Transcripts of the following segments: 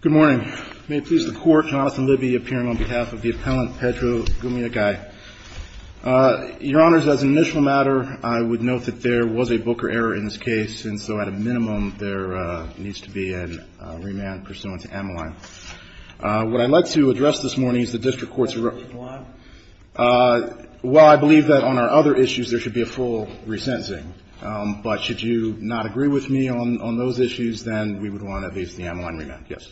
Good morning. May it please the Court, Jonathan Libby appearing on behalf of the Appellant Pedro Gumayagay. Your Honors, as an initial matter, I would note that there was a Booker error in this case, and so at a minimum, there needs to be a remand pursuant to Ammoline. What I'd like to address this morning is the District Court's request for a remand. While I believe that on our other issues there should be a full resentencing, but should you not agree with me on those issues, then we would want at least the Ammoline remand. Yes.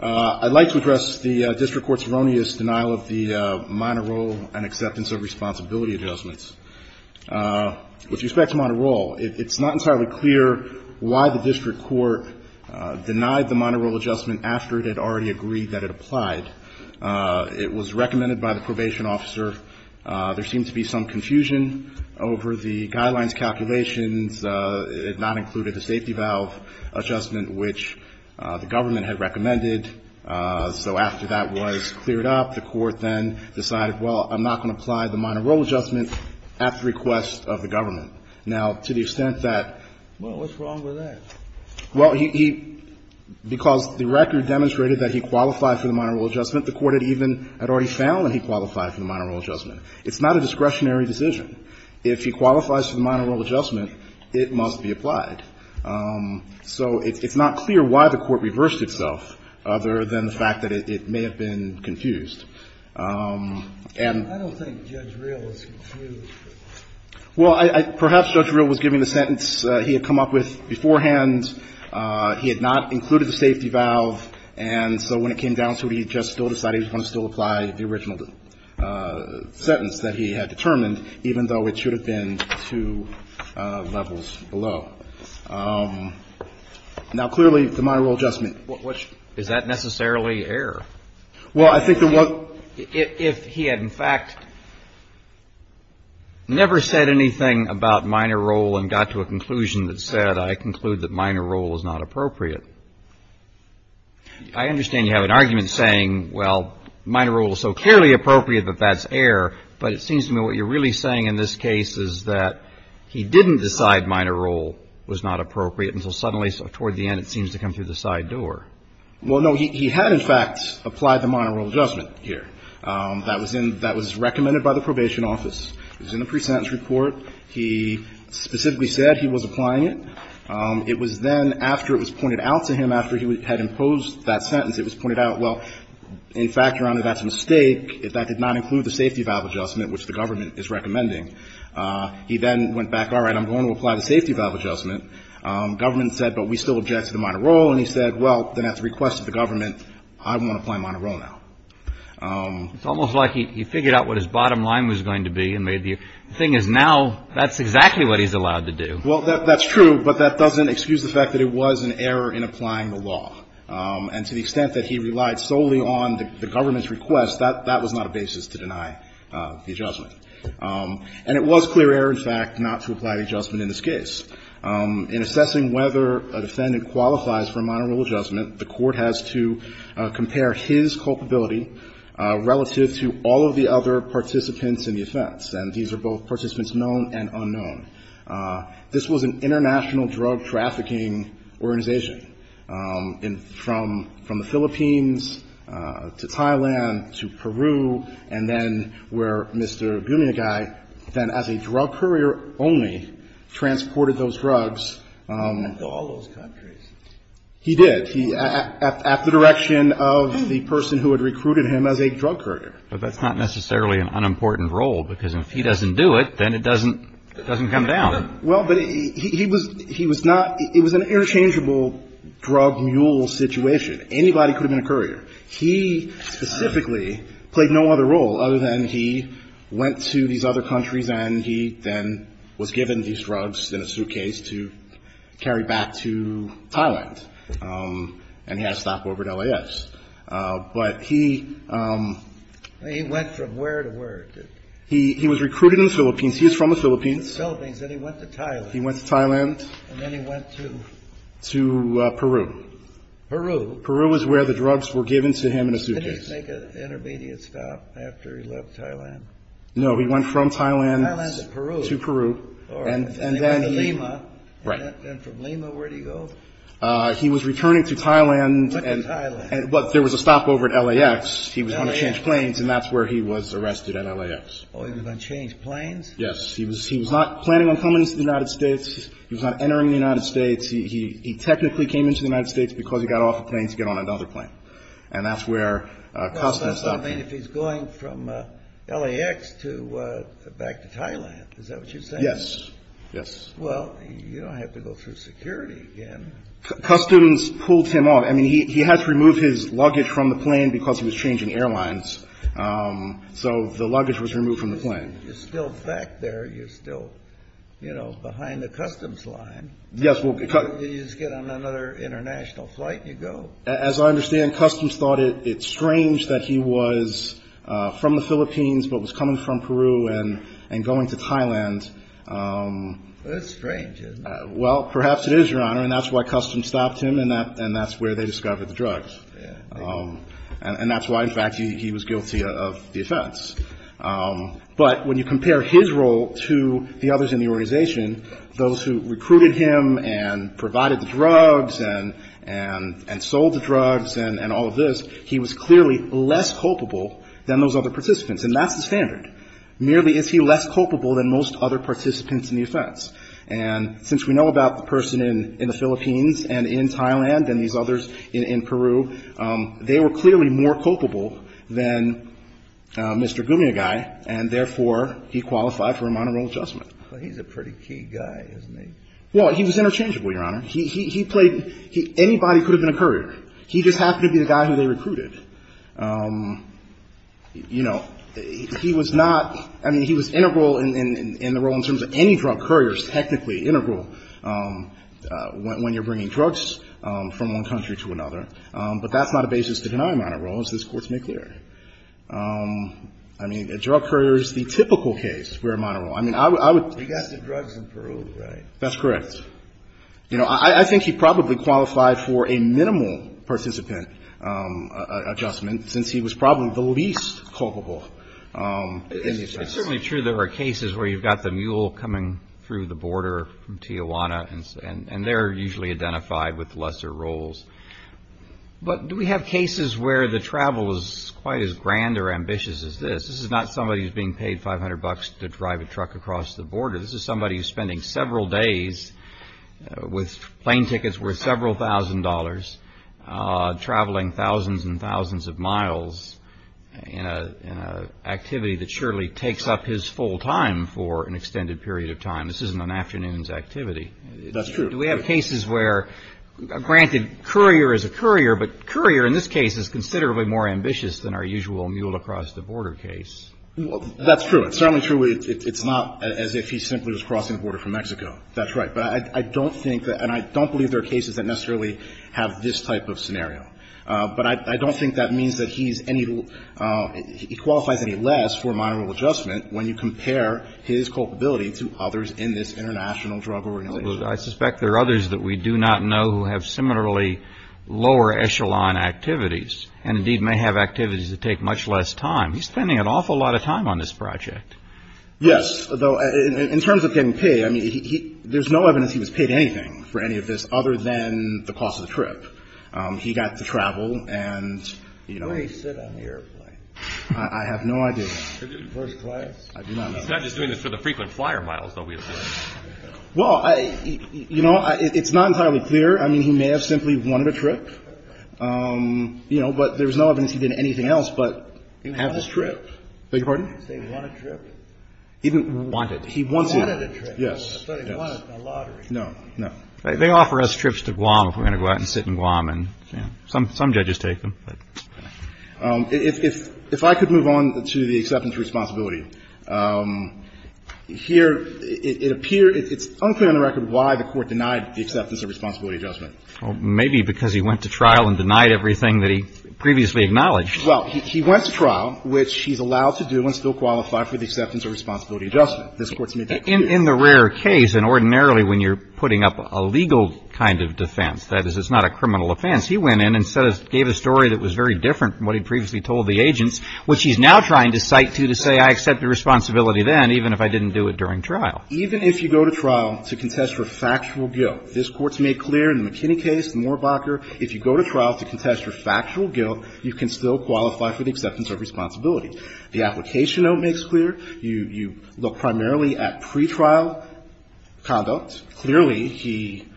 I'd like to address the District Court's erroneous denial of the minor role and acceptance of responsibility adjustments. With respect to minor role, it's not entirely clear why the District Court denied the minor role adjustment after it had already agreed that it applied. It was recommended by the probation officer. There seemed to be some discrepancy, but it did not include the safety valve adjustment, which the government had recommended. So after that was cleared up, the Court then decided, well, I'm not going to apply the minor role adjustment at the request of the government. Now, to the extent that — Well, what's wrong with that? Well, he — because the record demonstrated that he qualified for the minor role adjustment, the Court had even — had already found that he qualified for the minor role adjustment. It's not a discretionary decision. If he qualifies for the minor role adjustment, it must be applied. So it's not clear why the Court reversed itself, other than the fact that it may have been confused. And — I don't think Judge Reel was confused. Well, I — perhaps Judge Reel was giving the sentence he had come up with beforehand. He had not included the safety valve, and so when it came down to it, he just still applied the original sentence that he had determined, even though it should have been two levels below. Now, clearly, the minor role adjustment — Which — is that necessarily error? Well, I think the one — If he had, in fact, never said anything about minor role and got to a conclusion that said, I conclude that minor role is not appropriate, I understand you have an argument saying, well, minor role is so clearly appropriate that that's error, but it seems to me what you're really saying in this case is that he didn't decide minor role was not appropriate until suddenly, toward the end, it seems to come through the side door. Well, no. He had, in fact, applied the minor role adjustment here. That was in — that was recommended by the Probation Office. It was in the pre-sentence report. He specifically said he was applying it. It was then, after it was pointed out to him, after he had imposed that sentence, it was pointed out, well, in fact, Your Honor, that's a mistake. That did not include the safety valve adjustment, which the government is recommending. He then went back, all right, I'm going to apply the safety valve adjustment. Government said, but we still object to the minor role. And he said, well, then at the request of the government, I'm going to apply minor role now. It's almost like he figured out what his bottom line was going to be and made the — the thing is, now that's exactly what he's allowed to do. Well, that's true, but that doesn't excuse the fact that it was an error in applying the law. And to the extent that he relied solely on the government's request, that was not a basis to deny the adjustment. And it was clear error, in fact, not to apply the adjustment in this case. In assessing whether a defendant qualifies for a minor role adjustment, the Court has to compare his culpability relative to all of the other participants in the offense. And these are both participants known and unknown. This was an international drug trafficking organization, from the Philippines to Thailand to Peru, and then where Mr. Bunyagai then as a drug courier only transported those drugs. He did. At the direction of the person who had recruited him as a drug courier. But that's not necessarily an unimportant role, because if he doesn't do it, then it doesn't come down. Well, but he was not – it was an interchangeable drug mule situation. Anybody could have been a courier. He specifically played no other role other than he went to these other countries and he then was given these drugs in a suitcase to carry back to Thailand and he had to stop over at L.A.S. But he... He went from where to where? He was recruited in the Philippines. He was from the Philippines. He was from the Philippines and he went to Thailand. He went to Thailand. And then he went to... To Peru. Peru. Peru is where the drugs were given to him in a suitcase. Did he make an intermediate stop after he left Thailand? No. He went from Thailand to Peru. From Thailand to Peru. And then he... He went to Lima. Right. And from Lima, where did he go? He was returning to Thailand and... Went to Thailand. But there was a stop over at L.A.S. L.A.S. He was going to change planes and that's where he was arrested at L.A.S. Oh, he was going to change planes? Yes. He was not planning on coming to the United States. He was not entering the United States. He technically came into the United States because he got off a plane to get on another plane. And that's where Customs stopped him. Well, that's what I mean if he's going from L.A.S. to back to Thailand. Is that what you're saying? Yes. Yes. Well, you don't have to go through security again. Customs pulled him off. I mean, he had to remove his luggage from the plane because he was changing airlines. So the luggage was removed from the plane. You're still back there. You're still, you know, behind the Customs line. Yes. You just get on another international flight and you go. As I understand, Customs thought it strange that he was from the Philippines but was coming from Peru and going to Thailand. That's strange, isn't it? Well, perhaps it is, Your Honor, and that's why Customs stopped him and that's where they discovered the drugs. And that's why, in fact, he was guilty of the offense. But when you compare his role to the others in the organization, those who recruited him and provided the drugs and sold the drugs and all of this, he was clearly less culpable than those other participants. And that's the standard. Merely is he less culpable than most other participants in the offense. And since we know about the person in the Philippines and in Thailand and these others in Peru, they were clearly more culpable than Mr. Gumiagai, and therefore, he qualified for a monorail adjustment. But he's a pretty key guy, isn't he? Well, he was interchangeable, Your Honor. He played – anybody could have been a courier. He just happened to be the guy who they recruited. You know, he was not – I mean, he was integral in the role in terms of any drug courier is technically integral when you're bringing drugs from one country to another. But that's not a basis to deny a monorail, as this Court's made clear. I mean, a drug courier is the typical case where a monorail – I mean, I would – He got the drugs in Peru, right? That's correct. You know, I think he probably qualified for a minimal participant adjustment, since he was probably the least culpable in the offense. It's certainly true there are cases where you've got the mule coming through the border from Tijuana, and they're usually identified with lesser roles. But do we have cases where the travel is quite as grand or ambitious as this? This is not somebody who's being paid 500 bucks to drive a truck across the border. This is somebody who's spending several days with plane tickets worth several thousand dollars, traveling thousands and thousands of miles in an activity that surely takes up his full time for an extended period of time. This isn't an afternoon's activity. That's true. Do we have cases where – granted, courier is a courier, but courier in this case is considerably more ambitious than our usual mule-across-the-border case. That's true. It's certainly true. It's not as if he simply was crossing the border from Mexico. That's right. But I don't think that – and I don't believe there are cases that necessarily have this type of scenario. But I don't think that means that he's any – he qualifies any less for a minimal adjustment when you compare his culpability to others in this international drug organization. I suspect there are others that we do not know who have similarly lower echelon activities, and indeed may have activities that take much less time. He's spending an awful lot of time on this project. Yes. Though in terms of getting paid, I mean, there's no evidence he was paid anything for any of this other than the cost of the trip. He got to travel and – Where did he sit on the airplane? I have no idea. First class? I do not know. He's not just doing this for the frequent flyer miles, though, we assume. Well, you know, it's not entirely clear. I mean, he may have simply wanted a trip. You know, but there's no evidence he did anything else but have this trip. Beg your pardon? Did he want a trip? He didn't want it. He wanted a trip. Yes. I thought he wanted a lottery. No, no. They offer us trips to Guam if we're going to go out and sit in Guam, and some judges take them. If I could move on to the acceptance of responsibility. Here it appears – it's unclear on the record why the Court denied the acceptance of responsibility adjustment. Well, maybe because he went to trial and denied everything that he previously acknowledged. Well, he went to trial, which he's allowed to do and still qualify for the acceptance of responsibility adjustment. This Court's made that clear. In the rare case, and ordinarily when you're putting up a legal kind of defense, that is, it's not a criminal offense, he went in and gave a story that was very different from what he'd previously told the agents, which he's now trying to cite to to say I accepted responsibility then even if I didn't do it during trial. Now, even if you go to trial to contest for factual guilt, this Court's made clear in the McKinney case, Moorbacher, if you go to trial to contest for factual guilt, you can still qualify for the acceptance of responsibility. The application note makes clear. You look primarily at pretrial conduct. Clearly, he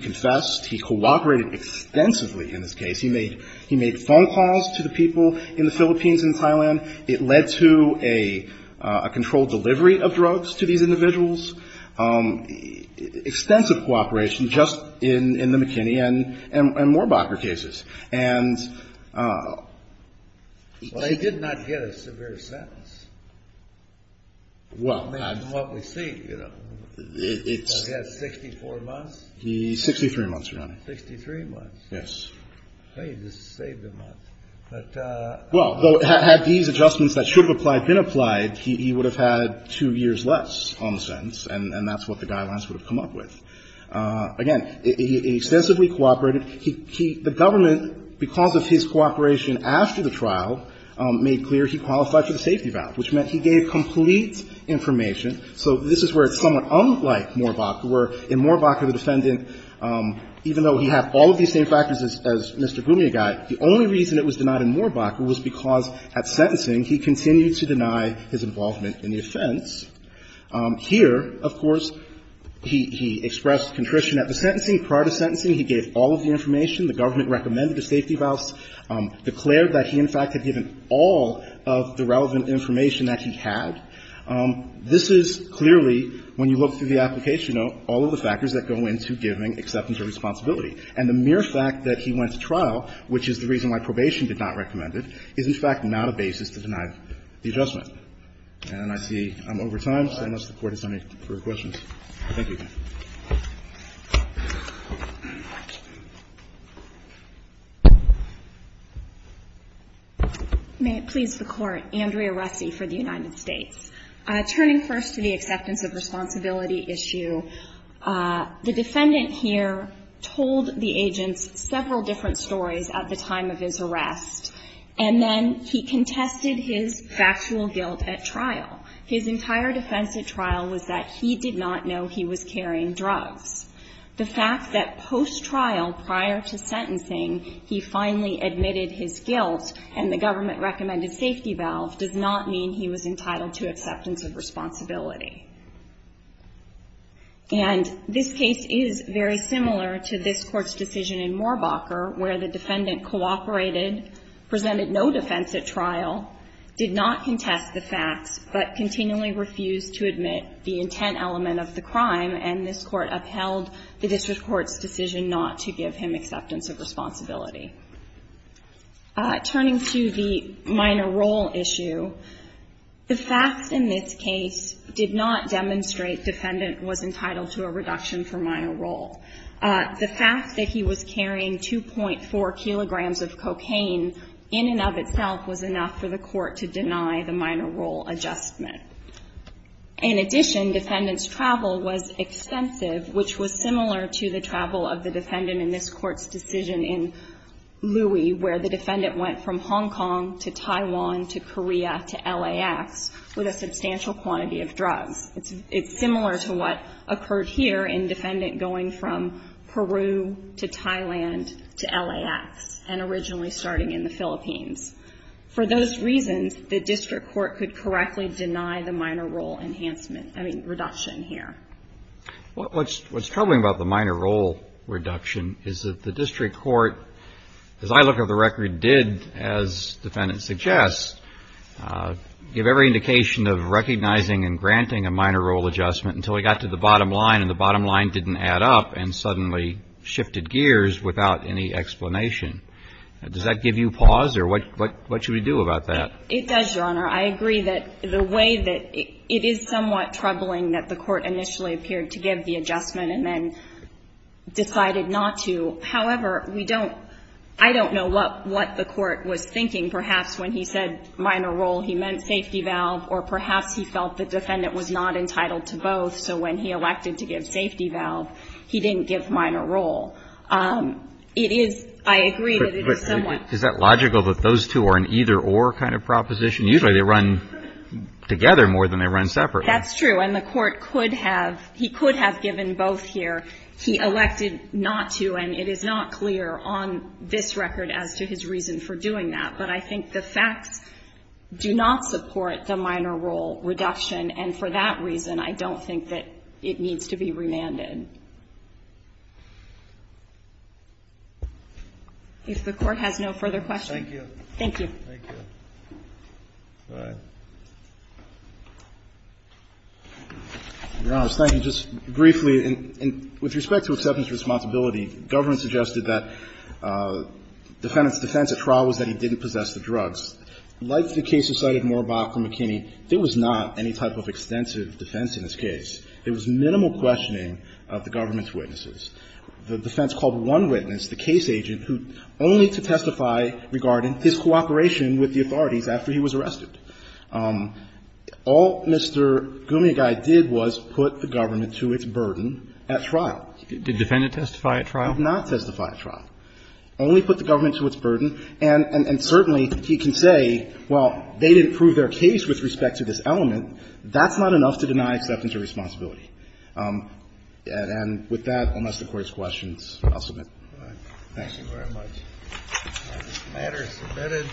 confessed. He cooperated extensively in this case. He made phone calls to the people in the Philippines and Thailand. It led to a controlled delivery of drugs to these individuals. Extensive cooperation just in the McKinney and Moorbacher cases. And he did not get a severe sentence. Well, it's 64 months. 63 months, Your Honor. 63 months. Yes. Well, had these adjustments that should have applied been applied, he would have had two years less on the sentence, and that's what the guidelines would have come up with. Again, he extensively cooperated. The government, because of his cooperation after the trial, made clear he qualified for the safety valve, which meant he gave complete information. So this is where it's somewhat unlike Moorbacher, where in Moorbacher, the defendant, even though he had all of these same factors as Mr. Gumiagai, the only reason it was denied in Moorbacher was because at sentencing he continued to deny his involvement in the offense. Here, of course, he expressed contrition at the sentencing. Prior to sentencing, he gave all of the information. The government recommended a safety valve, declared that he in fact had given all of the relevant information that he had. This is clearly, when you look through the application note, all of the factors that go into giving acceptance of responsibility. And the mere fact that he went to trial, which is the reason why probation did not recommend it, is, in fact, not a basis to deny the adjustment. And I see I'm over time, so unless the Court has any further questions. Thank you. May it please the Court. Andrea Russi for the United States. Turning first to the acceptance of responsibility issue, the defendant here told the agents several different stories at the time of his arrest, and then he contested his factual guilt at trial. His entire defense at trial was that he did not know he was carrying drugs. The fact that post-trial, prior to sentencing, he finally admitted his guilt and the And this case is very similar to this Court's decision in Moorbacher, where the defendant cooperated, presented no defense at trial, did not contest the facts, but continually refused to admit the intent element of the crime. And this Court upheld the district court's decision not to give him acceptance of responsibility. Turning to the minor role issue, the facts in this case did not demonstrate defendant was entitled to a reduction for minor role. The fact that he was carrying 2.4 kilograms of cocaine in and of itself was enough for the Court to deny the minor role adjustment. In addition, defendant's travel was extensive, which was similar to the travel of the defendant went from Hong Kong to Taiwan to Korea to LAX with a substantial quantity of drugs. It's similar to what occurred here in defendant going from Peru to Thailand to LAX, and originally starting in the Philippines. For those reasons, the district court could correctly deny the minor role enhancement or reduction here. What's troubling about the minor role reduction is that the district court, as I look over the record, did, as defendant suggests, give every indication of recognizing and granting a minor role adjustment until he got to the bottom line, and the bottom line didn't add up and suddenly shifted gears without any explanation. Does that give you pause, or what should we do about that? It does, Your Honor. I agree that the way that it is somewhat troubling that the Court initially appeared to give the adjustment and then decided not to. However, we don't, I don't know what the Court was thinking perhaps when he said minor role. He meant safety valve, or perhaps he felt the defendant was not entitled to both, so when he elected to give safety valve, he didn't give minor role. It is, I agree that it is somewhat. Is that logical that those two are an either-or kind of proposition? Usually they run together more than they run separately. That's true, and the Court could have, he could have given both here. He elected not to, and it is not clear on this record as to his reason for doing that, but I think the facts do not support the minor role reduction, and for that reason, I don't think that it needs to be remanded. If the Court has no further questions. Thank you. Thank you. Thank you. All right. Your Honors, thank you. Just briefly, with respect to acceptance of responsibility, government suggested that defendant's defense at trial was that he didn't possess the drugs. Like the case you cited more about from McKinney, there was not any type of extensive defense in this case. It was minimal questioning of the government's witnesses. The defense called one witness, the case agent, only to testify regarding his cooperation with the authorities after he was arrested. All Mr. Gumiagai did was put the government to its burden at trial. Did the defendant testify at trial? Did not testify at trial. Only put the government to its burden, and certainly he can say, well, they didn't prove their case with respect to this element. That's not enough to deny acceptance of responsibility. And with that, unless the Court has questions, I'll submit. Thank you. Thank you very much. This matter is submitted.